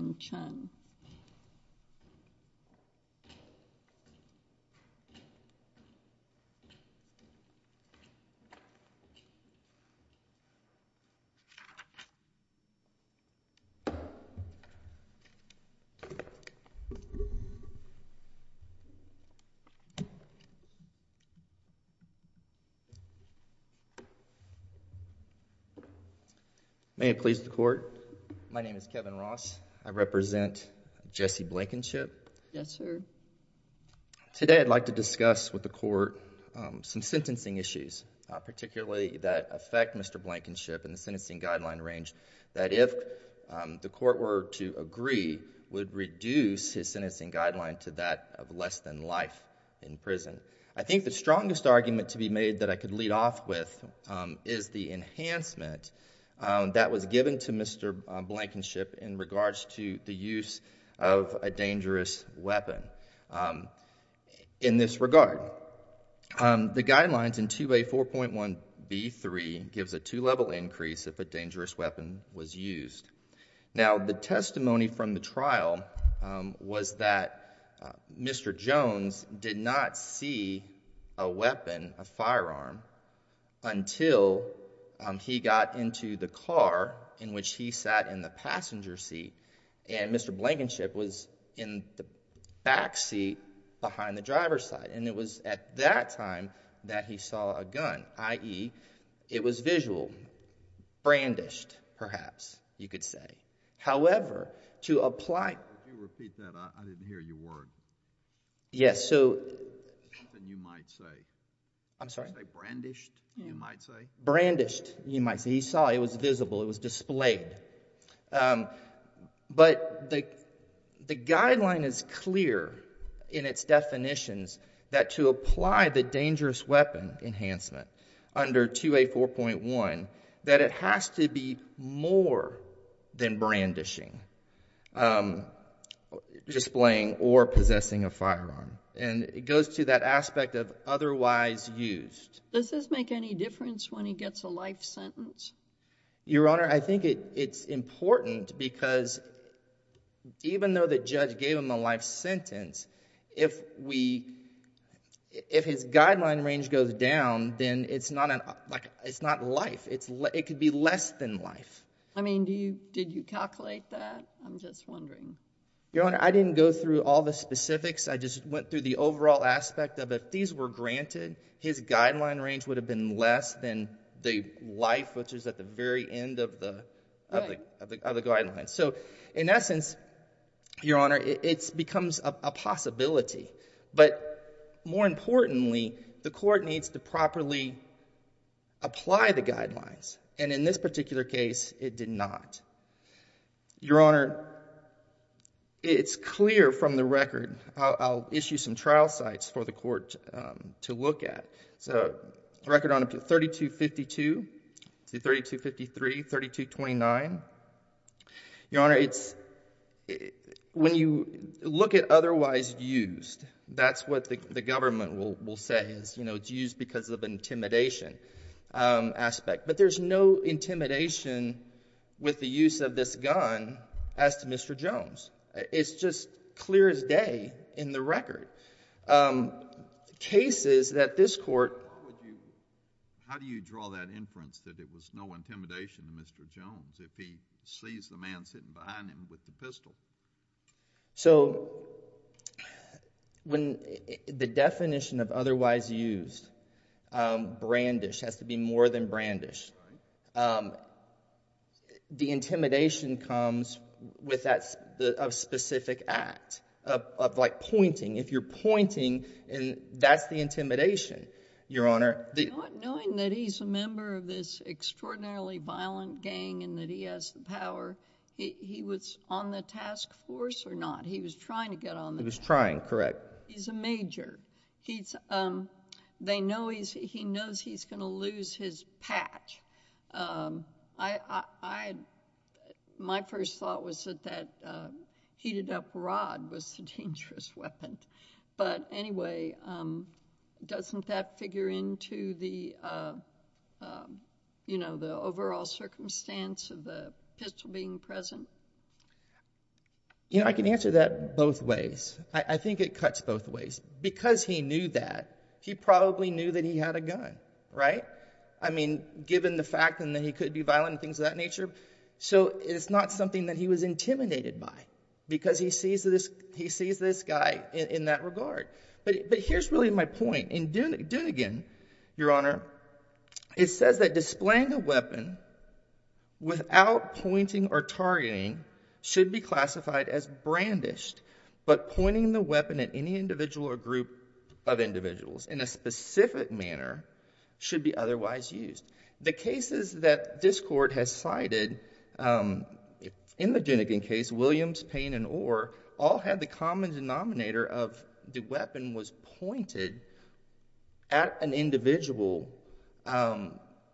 May it please the Court, my name is Kevin Ross. I represent Jesse Blankenship. Yes, sir. Today, I'd like to discuss with the Court some sentencing issues, particularly that affect Mr. Blankenship in the sentencing guideline range, that if the Court were to agree, would reduce his sentencing guideline to that of less than life in prison. I think the strongest argument to be made that I could lead off with is the enhancement that was given to Mr. Blankenship in regards to the use of a dangerous weapon. In this regard, the guidelines in 2A4.1B3 gives a two-level increase if a dangerous weapon was used. Now, the testimony from the trial was that Mr. Jones did not see a weapon, a firearm, until he got into the car in which he sat in the passenger seat, and Mr. Blankenship was in the back seat behind the driver's side. And it was at that time that he saw a gun, i.e., it was visual, brandished, perhaps, you could say. However, to apply... Could you repeat that? I didn't hear your word. Yes, so... Something you might say. I'm sorry? Could you say brandished, you might say? Brandished, you might say. He saw it. It was visible. It was displayed. But the guideline is clear in its definitions that to apply the dangerous weapon enhancement under 2A4.1, that it has to be more than brandishing, displaying, or possessing a firearm. And it goes to that aspect of otherwise used. Does this make any difference when he gets a life sentence? Your Honor, I think it's important because even though the judge gave him a life sentence, if we... if his guideline range goes down, then it's not life, it could be less than life. I mean, do you... did you calculate that? I'm just wondering. Your Honor, I didn't go through all the specifics. I just went through the overall aspect of if these were granted, his guideline range would have been less than the life, which is at the very end of the guidelines. So in essence, Your Honor, it becomes a possibility. But more importantly, the court needs to properly apply the guidelines. And in this particular case, it did not. Your Honor, it's clear from the record, I'll issue some trial sites for the court to look at. So the record on it, 3252, 3253, 3229, Your Honor, it's... when you look at otherwise used, that's what the government will say is, you know, it's used because of intimidation aspect. But there's no intimidation with the use of this gun as to Mr. Jones. It's just clear as day in the record. Cases that this court... How do you draw that inference that it was no intimidation to Mr. Jones if he sees the man sitting behind him with the pistol? So, when the definition of otherwise used, brandish, has to be more than brandish. The intimidation comes with that specific act of like pointing. If you're pointing, that's the intimidation, Your Honor. Knowing that he's a member of this extraordinarily violent gang and that he has the power, he was on the task force or not? He was trying to get on the... He was trying. Correct. He's a major. They know he's... he knows he's going to lose his patch. My first thought was that that heated up rod was the dangerous weapon. But anyway, doesn't that figure into the, you know, the overall circumstance of the case? You know, I can answer that both ways. I think it cuts both ways. Because he knew that, he probably knew that he had a gun, right? I mean, given the fact that he could be violent and things of that nature, so it's not something that he was intimidated by because he sees this guy in that regard. But here's really my point. In Dunigan, Your Honor, it says that displaying a weapon without pointing or targeting should be classified as brandished, but pointing the weapon at any individual or group of individuals in a specific manner should be otherwise used. The cases that this Court has cited, in the Dunigan case, Williams, Payne, and Orr, all had the common denominator of the weapon was pointed at an individual.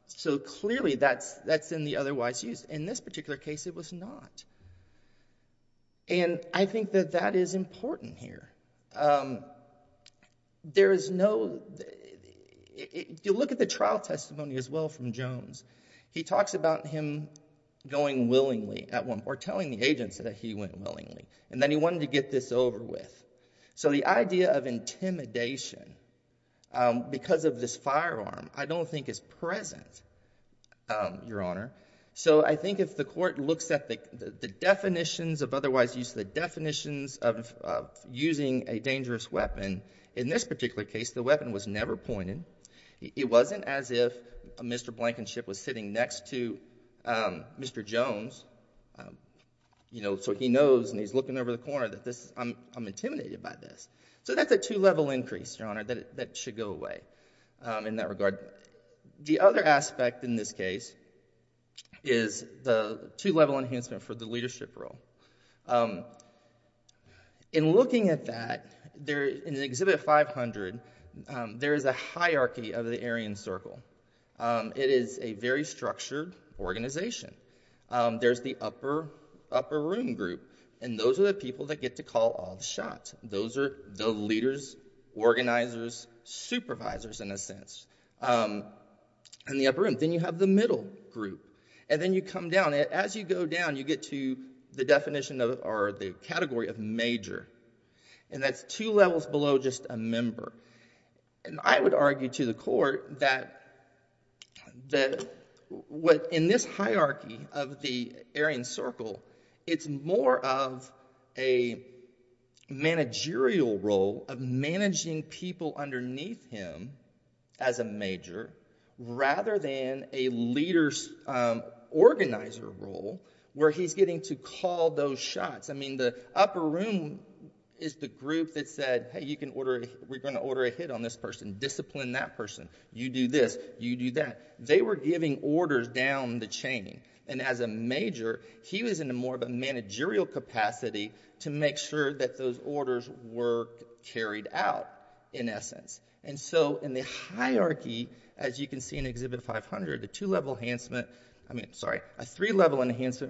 So clearly, that's in the otherwise used. In this particular case, it was not. And I think that that is important here. There is no... you look at the trial testimony as well from Jones. He talks about him going willingly at one... or telling the agents that he went willingly. And then he wanted to get this over with. So the idea of intimidation, because of this firearm, I don't think is present, Your Honor. So I think if the Court looks at the definitions of otherwise used, the definitions of using a dangerous weapon, in this particular case, the weapon was never pointed. It wasn't as if Mr. Blankenship was sitting next to Mr. Jones, you know, so he knows and he's looking over the corner that this... I'm intimidated by this. So that's a two-level increase, Your Honor, that should go away in that regard. The other aspect in this case is the two-level enhancement for the leadership role. In looking at that, in Exhibit 500, there is a hierarchy of the Aryan Circle. It is a very structured organization. There's the upper room group, and those are the people that get to call all the shots. Those are the leaders, organizers, supervisors, in a sense, in the upper room. Then you have the middle group. And then you come down. As you go down, you get to the definition of, or the category of major. And that's two levels below just a member. And I would argue to the court that in this hierarchy of the Aryan Circle, it's more of a managerial role of managing people underneath him as a major rather than a leader's organizer role where he's getting to call those shots. The upper room is the group that said, hey, we're going to order a hit on this person. Discipline that person. You do this. You do that. They were giving orders down the chain. And as a major, he was in more of a managerial capacity to make sure that those orders were carried out, in essence. And so in the hierarchy, as you can see in Exhibit 500, a three-level enhancement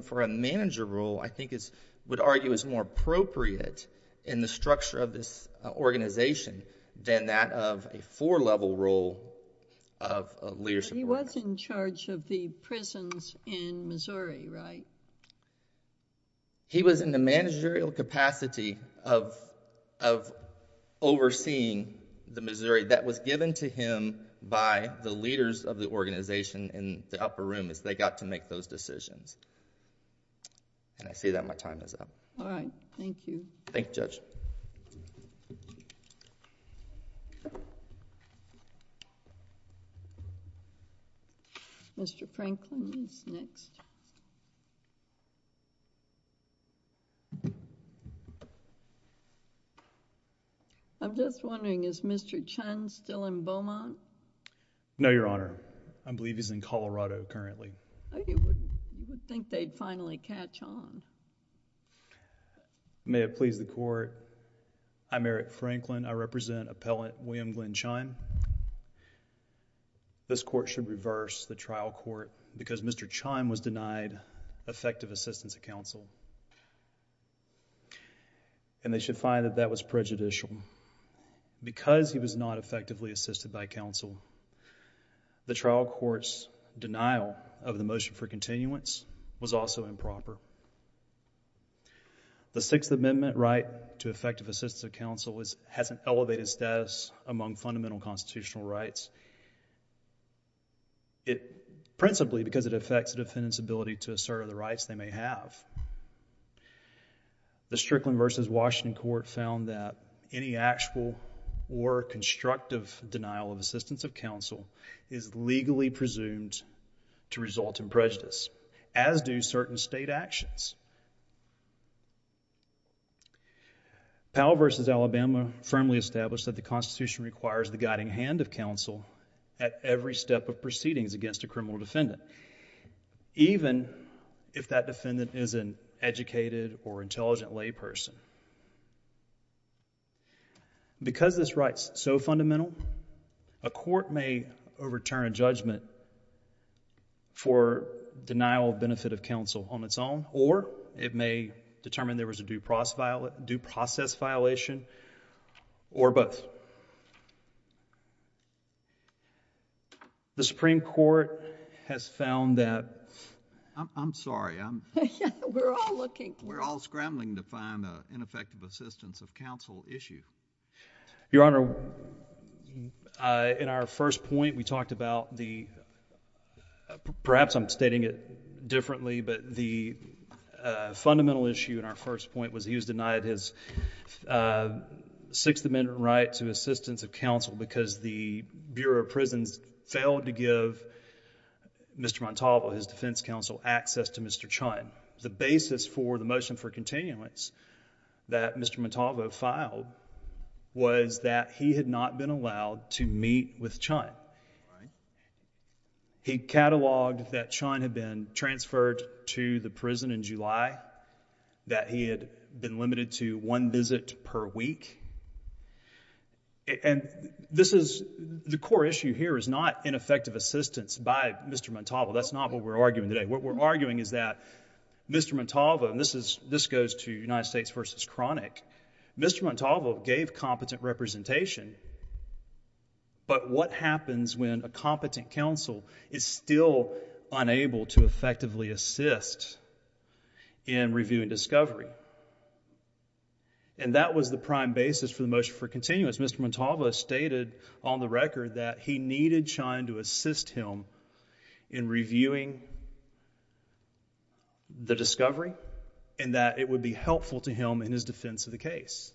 for me, I would argue, is more appropriate in the structure of this organization than that of a four-level role of leadership. He was in charge of the prisons in Missouri, right? He was in the managerial capacity of overseeing the Missouri that was given to him by the leaders of the organization in the upper room as they got to make those decisions. And I say that my time is up. All right. Thank you. Thank you, Judge. Mr. Franklin is next. I'm just wondering, is Mr. Chun still in Beaumont? No, Your Honor. I believe he's in Colorado currently. Oh, you would think they'd finally catch on. May it please the Court, I'm Eric Franklin. I represent Appellant William Glenn Chun. This Court should reverse the trial court because Mr. Chun was denied effective assistance of counsel. And they should find that that was prejudicial. Because he was not effectively assisted by counsel, the trial court's denial of the motion for continuance was also improper. The Sixth Amendment right to effective assistance of counsel has an elevated status among fundamental constitutional rights, principally because it affects the defendant's ability to assert other rights they may have. The Strickland v. Washington Court found that any actual or constructive denial of assistance of counsel is legally presumed to result in prejudice, as do certain state actions. Powell v. Alabama firmly established that the Constitution requires the guiding hand of counsel at every step of proceedings against a criminal defendant, even if that defendant is an educated or intelligent layperson. Because this right's so fundamental, a court may overturn a judgment for denial of benefit of counsel on its own, or it may determine there was a due process violation, or both. So, the Supreme Court has found that... I'm sorry. We're all looking. We're all scrambling to find an effective assistance of counsel issue. Your Honor, in our first point, we talked about the... perhaps I'm stating it differently, but the fundamental issue in our first point was he was denied his Sixth Amendment right to assistance of counsel because the Bureau of Prisons failed to give Mr. Montalvo, his defense counsel, access to Mr. Chun. The basis for the motion for continuance that Mr. Montalvo filed was that he had not been allowed to meet with Chun. He cataloged that Chun had been transferred to the prison in July, that he had been limited to one visit per week. The core issue here is not ineffective assistance by Mr. Montalvo. That's not what we're arguing today. What we're arguing is that Mr. Montalvo, and this goes to United States v. Chronic, Mr. Montalvo gave competent representation, but what happens when a competent counsel is still unable to effectively assist in reviewing discovery? That was the prime basis for the motion for continuance. Mr. Montalvo stated on the record that he needed Chun to assist him in reviewing the discovery and that it would be helpful to him in his defense of the case.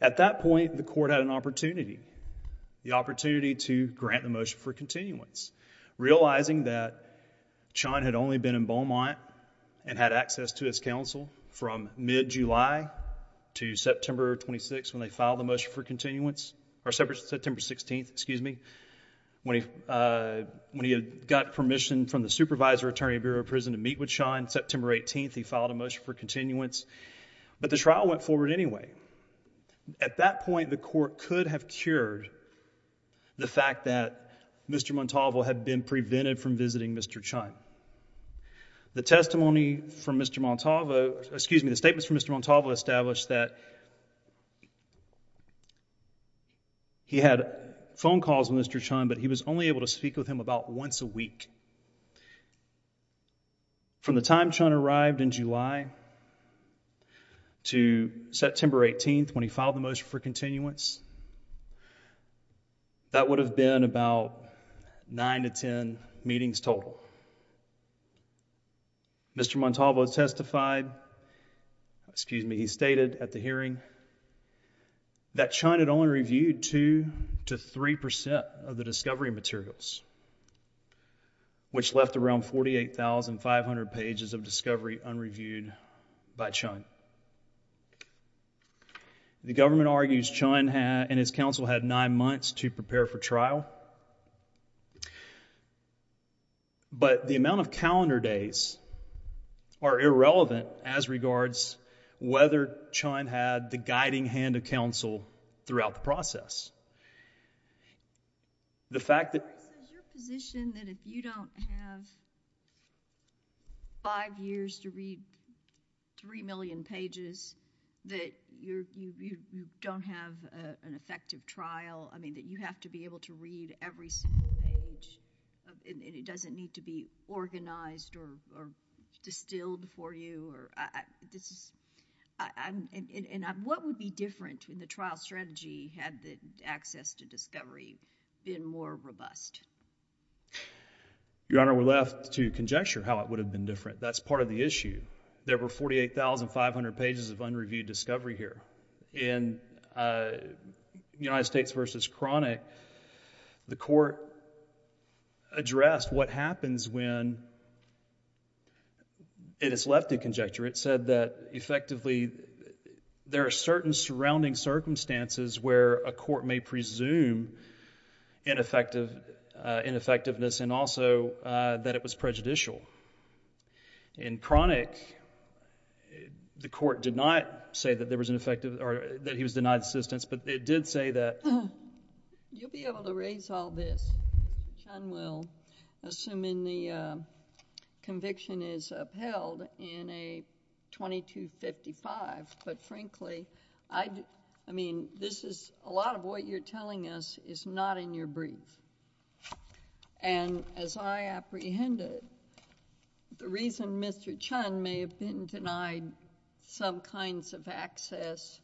At that point, the court had an opportunity, the opportunity to grant the motion for continuance, realizing that Chun had only been in Beaumont and had access to his counsel from mid-July to September 26th when they filed the motion for continuance, or September 16th, excuse me, when he had got permission from the Supervisor of the Attorney Bureau of Prisons to meet with Chun. On September 18th, he filed a motion for continuance, but the trial went forward anyway. At that point, the court could have cured the fact that Mr. Montalvo had been prevented from visiting Mr. Chun. The testimony from Mr. Montalvo, excuse me, the statements from Mr. Montalvo established that he had phone calls with Mr. Chun, but he was only able to speak with him about once a week. From the time Chun arrived in July to September 18th when he filed the motion for continuance, that would have been about nine to ten meetings total. Mr. Montalvo testified, excuse me, he stated at the hearing that Chun had only reviewed two to three percent of the discovery materials, which left around 48,500 pages of discovery unreviewed by Chun. The government argues Chun and his counsel had nine months to prepare for trial, but the amount of calendar days are irrelevant as regards whether Chun had the guiding hand of counsel throughout the process. The fact that... Your position that if you don't have five years to read three million pages, that you don't have an effective trial, I mean, that you have to be able to read every single page and it doesn't need to be organized or distilled for you? What would be different in the trial strategy had the access to discovery been more robust? Your Honor, we're left to conjecture how it would have been different. That's part of the issue. There were 48,500 pages of unreviewed discovery here. In United States v. Chronic, the court addressed what happens when it is left to conjecture. It said that effectively there are certain surrounding circumstances where a court may presume ineffectiveness and also that it was prejudicial. In Chronic, the court did not say that he was denied assistance, but it did say that... You'll be able to raise all this, Chun will, assuming the conviction is upheld in a 2255, but frankly, I mean, a lot of what you're telling us is not in your brief. As I apprehended, the reason Mr. Chun may have been denied some kinds of access,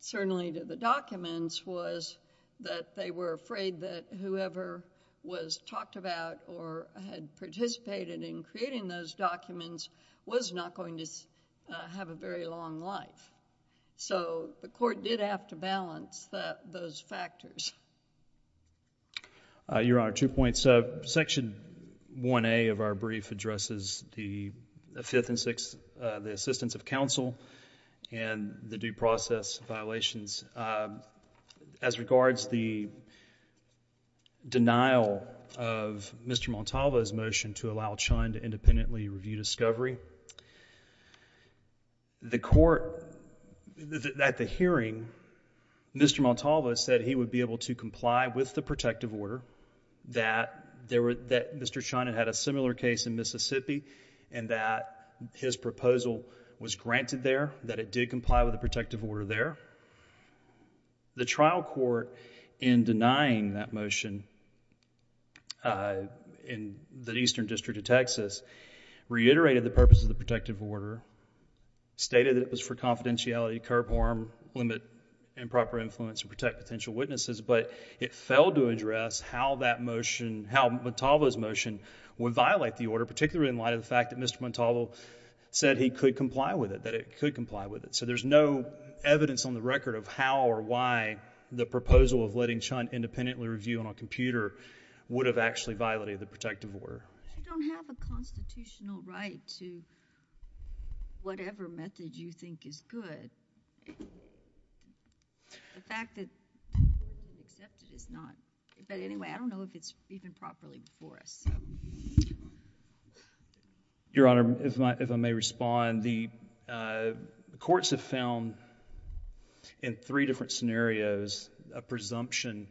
certainly to the documents, was that they were afraid that whoever was talked about or had participated in creating those documents was not going to have a very long life. So the court did have to balance those factors. Your Honor, two points. Section 1A of our brief addresses the fifth and sixth, the assistance of counsel and the due process violations. As regards the denial of Mr. Montalvo's motion to allow Chun to independently review discovery, the court, at the hearing, Mr. Montalvo said he would be able to comply with the protective order, that Mr. Chun had a similar case in Mississippi and that his proposal was granted there, that it did comply with the protective order there. The trial court, in denying that motion in the Eastern District of Texas, reiterated the purpose of the protective order, stated it was for confidentiality, curb harm, limit improper influence and protect potential witnesses, but it failed to address how that motion, how Montalvo's motion would violate the order, particularly in light of the fact that Mr. Chun could comply with it, that it could comply with it. So there's no evidence on the record of how or why the proposal of letting Chun independently review on a computer would have actually violated the protective order. I don't have a constitutional right to whatever method you think is good. The fact that it's not, but anyway, I don't know if it's even properly before us. Your Honor, if I may respond, the courts have found in three different scenarios a presumption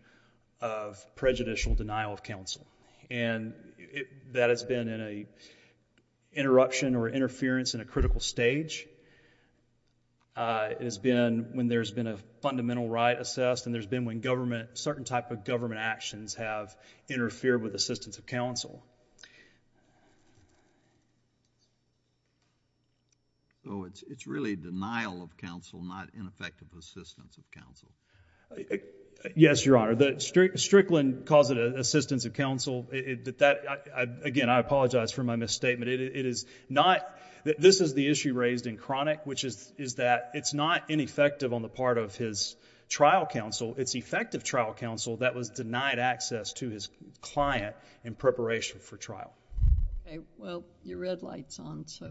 of prejudicial denial of counsel, and that has been in an interruption or interference in a critical stage, it has been when there's been a fundamental right assessed and there's been when government, certain type of government actions have interfered with assistance of counsel. So it's really denial of counsel, not ineffective assistance of counsel. Yes, Your Honor, Strickland calls it assistance of counsel, but that, again, I apologize for my misstatement. It is not, this is the issue raised in Chronic, which is that it's not ineffective on the part of his trial counsel, it's effective trial counsel that was denied access to his preparation for trial. Okay, well, your red light's on, so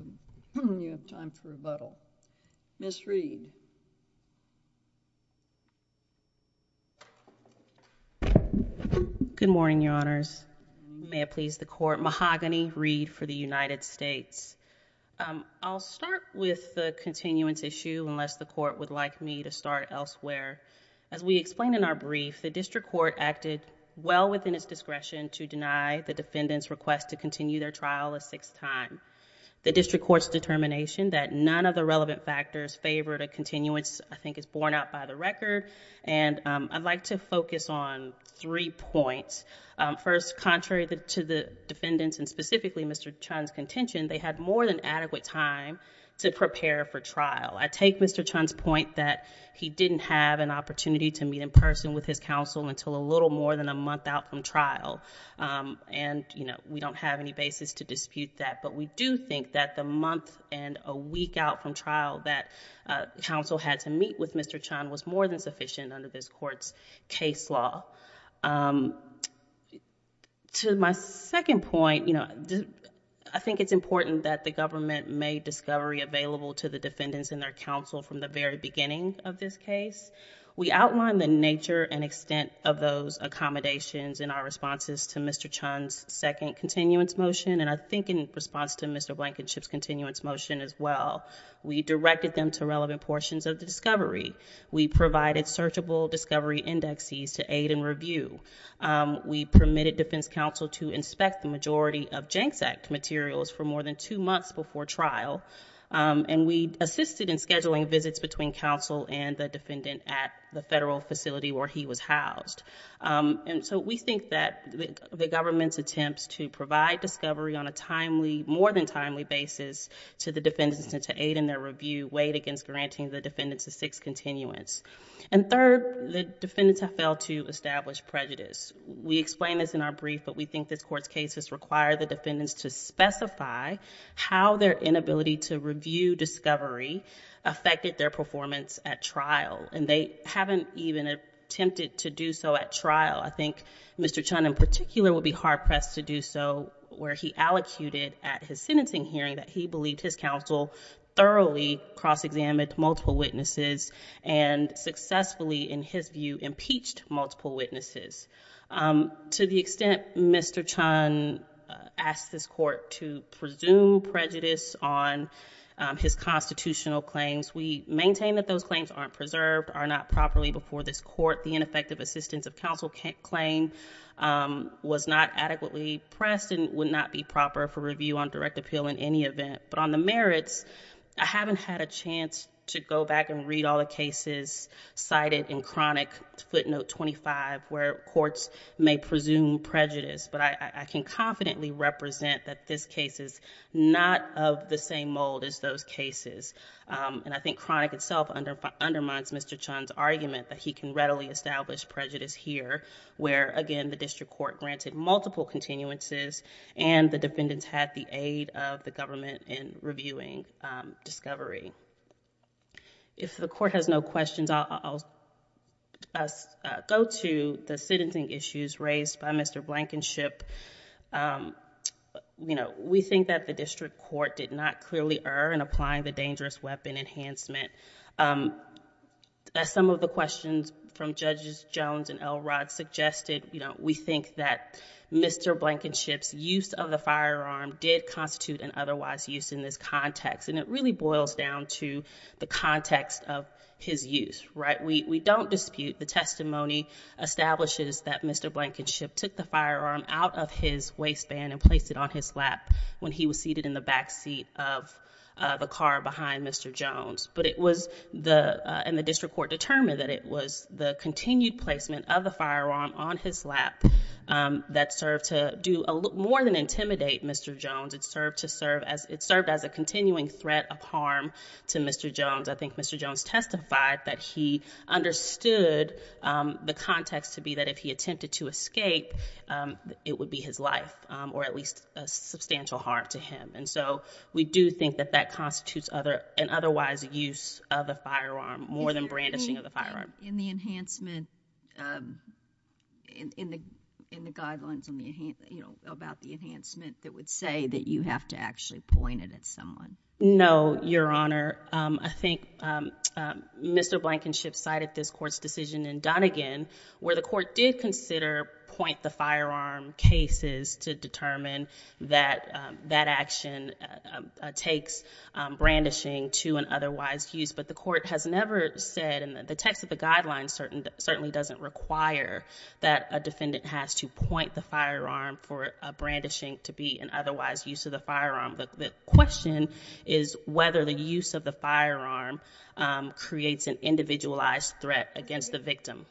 you have time for rebuttal. Ms. Reed. Good morning, Your Honors. May it please the Court. Mahogany Reed for the United States. I'll start with the continuance issue unless the Court would like me to start elsewhere. As we explained in our brief, the district court acted well within its discretion to deny the defendant's request to continue their trial a sixth time. The district court's determination that none of the relevant factors favored a continuance, I think is borne out by the record, and I'd like to focus on three points. First, contrary to the defendant's and specifically Mr. Chunn's contention, they had more than adequate time to prepare for trial. I take Mr. Chunn's point that he didn't have an opportunity to meet in person with his counsel for a little more than a month out from trial, and we don't have any basis to dispute that, but we do think that the month and a week out from trial that counsel had to meet with Mr. Chunn was more than sufficient under this Court's case law. To my second point, I think it's important that the government made discovery available to the defendants and their counsel from the very beginning of this case. We outlined the nature and extent of those accommodations in our responses to Mr. Chunn's second continuance motion, and I think in response to Mr. Blankenship's continuance motion as well. We directed them to relevant portions of the discovery. We provided searchable discovery indexes to aid in review. We permitted defense counsel to inspect the majority of Jenks Act materials for more than a month at the federal facility where he was housed, and so we think that the government's attempts to provide discovery on a timely, more than timely basis to the defendants and to aid in their review weighed against granting the defendants a sixth continuance. And third, the defendants have failed to establish prejudice. We explain this in our brief, but we think this Court's cases require the defendants to specify how their inability to review discovery affected their performance at trial, and they haven't even attempted to do so at trial. I think Mr. Chunn in particular would be hard-pressed to do so where he allocated at his sentencing hearing that he believed his counsel thoroughly cross-examined multiple witnesses and successfully, in his view, impeached multiple witnesses. To the extent Mr. Chunn asked this Court to presume prejudice on his constitutional claims, we maintain that those claims aren't preserved, are not properly before this Court. The ineffective assistance of counsel claim was not adequately pressed and would not be proper for review on direct appeal in any event. But on the merits, I haven't had a chance to go back and read all the cases cited in chronic footnote 25 where courts may presume prejudice, but I can confidently represent that this case is not of the same mold as those cases. I think chronic itself undermines Mr. Chunn's argument that he can readily establish prejudice here where, again, the district court granted multiple continuances and the defendants had the aid of the government in reviewing discovery. If the Court has no questions, I'll go to the sentencing issues raised by Mr. Blankenship. You know, we think that the district court did not clearly err in applying the dangerous weapon enhancement. As some of the questions from Judges Jones and Elrod suggested, you know, we think that Mr. Blankenship's use of the firearm did constitute an otherwise use in this context, and it really boils down to the context of his use, right? We don't dispute the testimony establishes that Mr. Blankenship took the firearm out of his waistband and placed it on his lap when he was seated in the backseat of the car behind Mr. Jones, but it was the, and the district court determined that it was the continued placement of the firearm on his lap that served to do more than intimidate Mr. Jones. It served to serve as, it served as a continuing threat of harm to Mr. Jones. I think Mr. Jones testified that he understood the context to be that if he attempted to use the firearm, it would be his life or at least a substantial harm to him. And so we do think that that constitutes other, an otherwise use of a firearm more than brandishing of the firearm. In the enhancement, um, in, in the, in the guidelines on the, you know, about the enhancement that would say that you have to actually point it at someone. No, Your Honor. Um, I think, um, um, Mr. Blankenship cited this court's decision in Donegan where the cases to determine that, um, that action, um, uh, takes, um, brandishing to an otherwise use, but the court has never said in the text of the guidelines, certain certainly doesn't require that a defendant has to point the firearm for a brandishing to be an otherwise use of the firearm. The question is whether the use of the firearm, um, creates an individualized threat against the victim.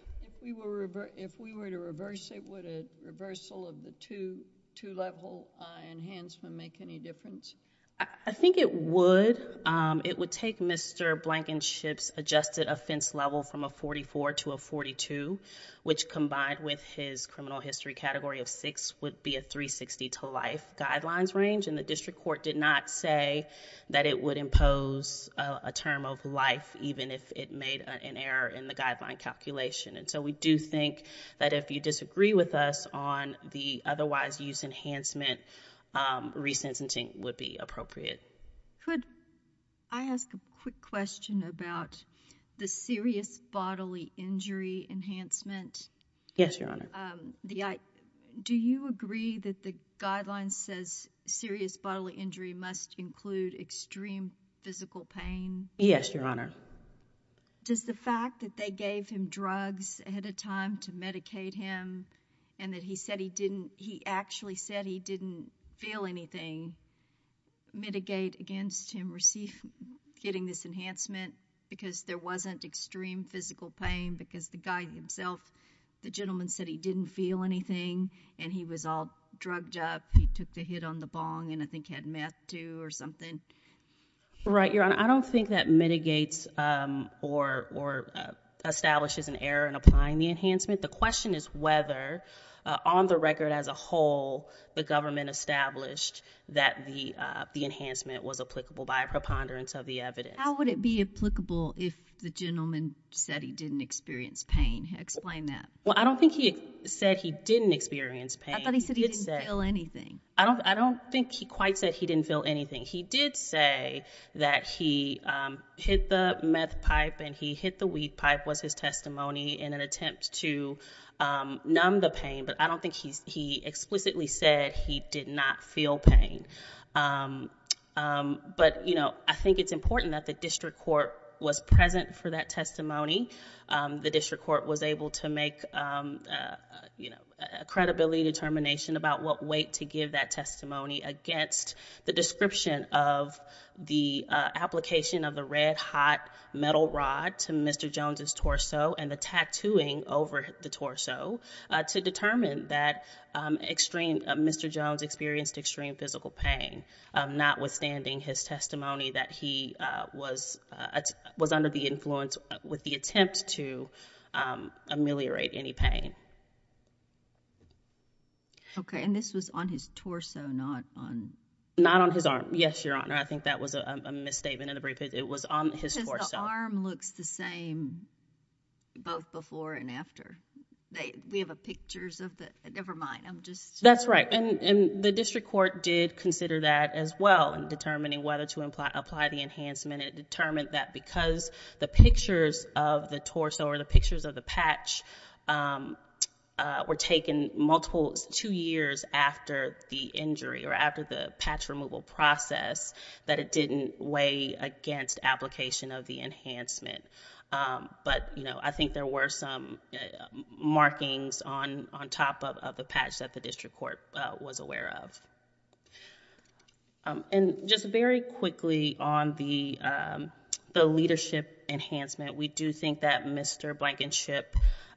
If we were, if we were to reverse it, would a reversal of the two, two level, uh, enhancement make any difference? I think it would, um, it would take Mr. Blankenship's adjusted offense level from a 44 to a 42, which combined with his criminal history category of six would be a 360 to life guidelines range and the district court did not say that it would impose, uh, a term of life even if it made an error in the guideline calculation. And so we do think that if you disagree with us on the otherwise use enhancement, um, resentencing would be appropriate. Could I ask a quick question about the serious bodily injury enhancement? Yes, Your Honor. Um, the, I, do you agree that the guidelines says serious bodily injury must include extreme physical pain? Yes, Your Honor. Does the fact that they gave him drugs ahead of time to medicate him and that he said he didn't, he actually said he didn't feel anything mitigate against him receiving, getting this enhancement because there wasn't extreme physical pain because the guy himself, the gentleman said he didn't feel anything and he was all drugged up. He took the hit on the bong and I think had meth too or something. Right, Your Honor. I don't think that mitigates, um, or, or, uh, establishes an error in applying the enhancement. The question is whether, uh, on the record as a whole, the government established that the, uh, the enhancement was applicable by a preponderance of the evidence. How would it be applicable if the gentleman said he didn't experience pain? Explain that. Well, I don't think he said he didn't experience pain. I thought he said he didn't feel anything. I don't, I don't think he quite said he didn't feel anything. He did say that he, um, hit the meth pipe and he hit the weed pipe was his testimony in an attempt to, um, numb the pain, but I don't think he's, he explicitly said he did not feel pain. Um, um, but you know, I think it's important that the district court was present for that testimony. Um, the district court was able to make, um, uh, you know, a credibility determination about what weight to give that testimony against the description of the, uh, application of the red hot metal rod to Mr. Jones's torso and the tattooing over the torso, uh, to determine that, um, extreme, uh, Mr. Jones experienced extreme physical pain, um, notwithstanding his testimony that he, uh, was, uh, was under the influence with the attempt to, um, ameliorate any pain. Okay. Okay. And this was on his torso, not on. Not on his arm. Yes, Your Honor. I think that was a misstatement in the briefcase. It was on his torso. Because the arm looks the same both before and after. They, we have a pictures of the, nevermind, I'm just. That's right. And, and the district court did consider that as well in determining whether to imply, apply the enhancement. And it determined that because the pictures of the torso or the pictures of the patch, um, uh, were taken multiple, two years after the injury or after the patch removal process, that it didn't weigh against application of the enhancement. Um, but, you know, I think there were some, uh, markings on, on top of, of the patch that the district court, uh, was aware of. Um, and just very quickly on the, um, the leadership enhancement, we do think that Mr. Blankenship,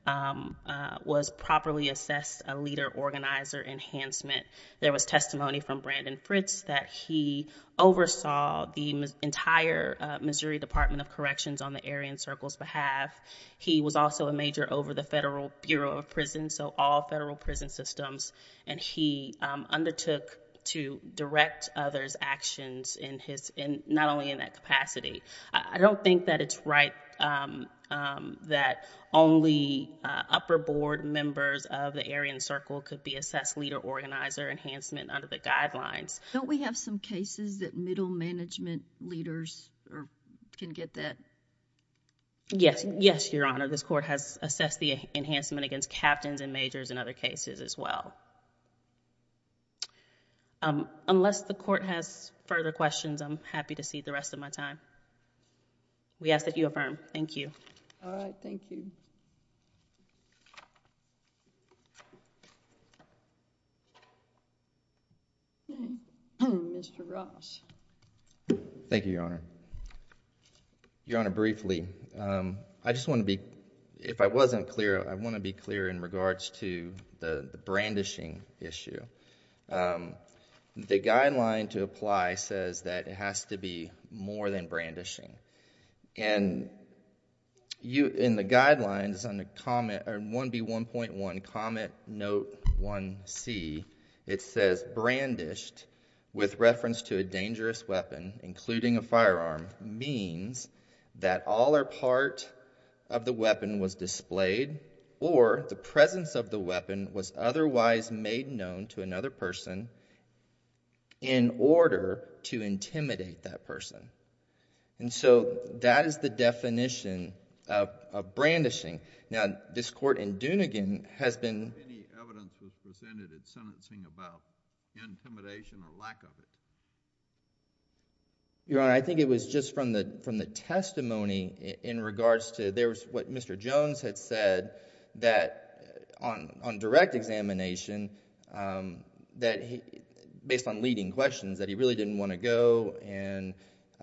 um, uh, was properly assessed a leader organizer enhancement. There was testimony from Brandon Fritz that he oversaw the entire, uh, Missouri Department of Corrections on the Aryan Circle's behalf. He was also a major over the Federal Bureau of Prisons, so all federal prison systems. And he, um, undertook to direct others' actions in his, in, not only in that capacity. I don't think that it's right, um, um, that only, uh, upper board members of the Aryan Circle could be assessed leader organizer enhancement under the guidelines. Don't we have some cases that middle management leaders can get that? Yes. Yes, Your Honor. This Court has assessed the enhancement against captains and majors in other cases as well. Um, unless the Court has further questions, I'm happy to cede the rest of my time. We ask that you affirm. Thank you. All right. Thank you. Okay. Mr. Ross. Thank you, Your Honor. Your Honor, briefly. I just want to be, if I wasn't clear, I want to be clear in regards to the, the brandishing issue. Um, the guideline to apply says that it has to be more than brandishing. And you, in the guidelines on the comment, or 1B1.1 comment note 1C, it says, brandished with reference to a dangerous weapon, including a firearm, means that all or part of the weapon was displayed or the presence of the weapon was otherwise made known to another person in order to intimidate that person. And so, that is the definition of, of brandishing. Now, this Court in Dunegan has been... Any evidence was presented in sentencing about intimidation or lack of it? Your Honor, I think it was just from the, from the testimony in regards to, there was what Mr. Jones had said that on, on direct examination, um, that he, based on leading questions, that he really didn't want to go and,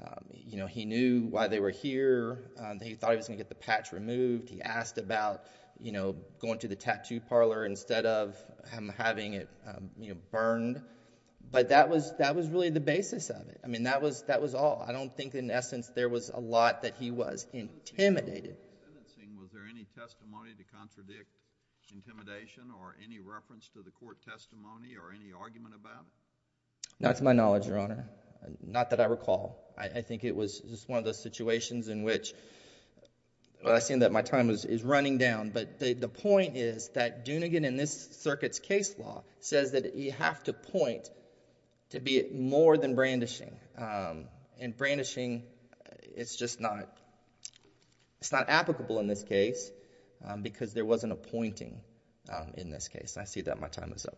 um, you know, he knew why they were here. Um, that he thought he was going to get the patch removed. He asked about, you know, going to the tattoo parlor instead of him having it, um, you know, burned. But that was, that was really the basis of it. I mean, that was, that was all. I don't think in essence there was a lot that he was intimidated. In the sentencing, was there any testimony to contradict intimidation or any reference to the Court testimony or any argument about it? Not to my knowledge, Your Honor. Not that I recall. I, I think it was just one of those situations in which, well, I see that my time is, is running down. But the, the point is that Dunigan in this circuit's case law says that you have to point to be more than brandishing, um, and brandishing, it's just not, it's not applicable in this case, um, because there wasn't a pointing, um, in this case. I see that my time is up.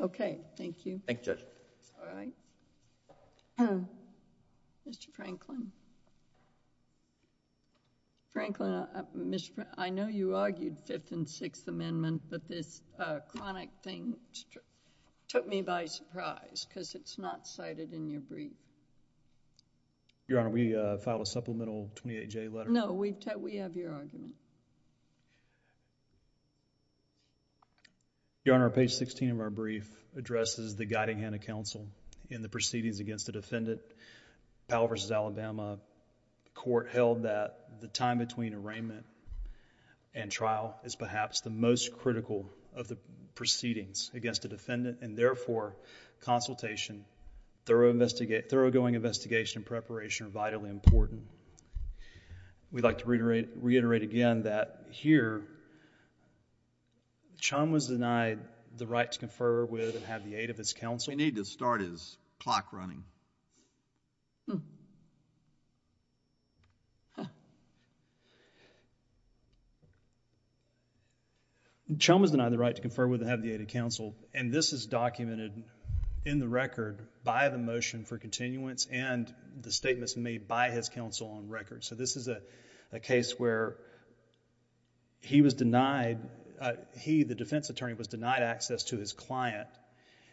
Okay. Thank you. Thank you, Judge. All right. Thank you. Mr. Franklin. Franklin, uh, Mr.... I know you argued Fifth and Sixth Amendment, but this, uh, chronic thing took, took me by surprise because it's not cited in your brief. Your Honor, we, uh, filed a supplemental 28J letter. No, we, we have your argument. Your Honor, page 16 of our brief addresses the guiding hand of counsel in the proceedings against the defendant, Powell v. Alabama. Court held that the time between arraignment and trial is perhaps the most critical of the proceedings against the defendant and therefore, consultation, thorough investigate, thoroughgoing investigation and preparation are vitally important. We'd like to reiterate, reiterate again that here, Chum was denied the right to confer with and have the aid of his counsel. We need to start his clock running. Hmm. Huh. Chum was denied the right to confer with and have the aid of counsel and this is documented in the record by the motion for continuance and the statements made by his counsel on record. So, this is a, a case where he was denied, uh, he, the defense attorney was denied access to his client,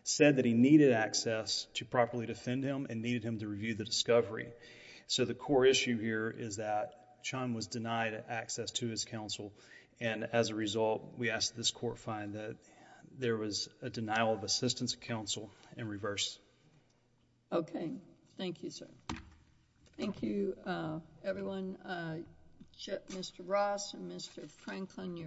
said that he needed access to properly defend him and needed him to review the discovery. So, the core issue here is that Chum was denied access to his counsel and as a result, we believe that there was a denial of assistance of counsel in reverse. Okay. Thank you, sir. Thank you, uh, everyone, uh, Chip, Mr. Ross and Mr. Franklin.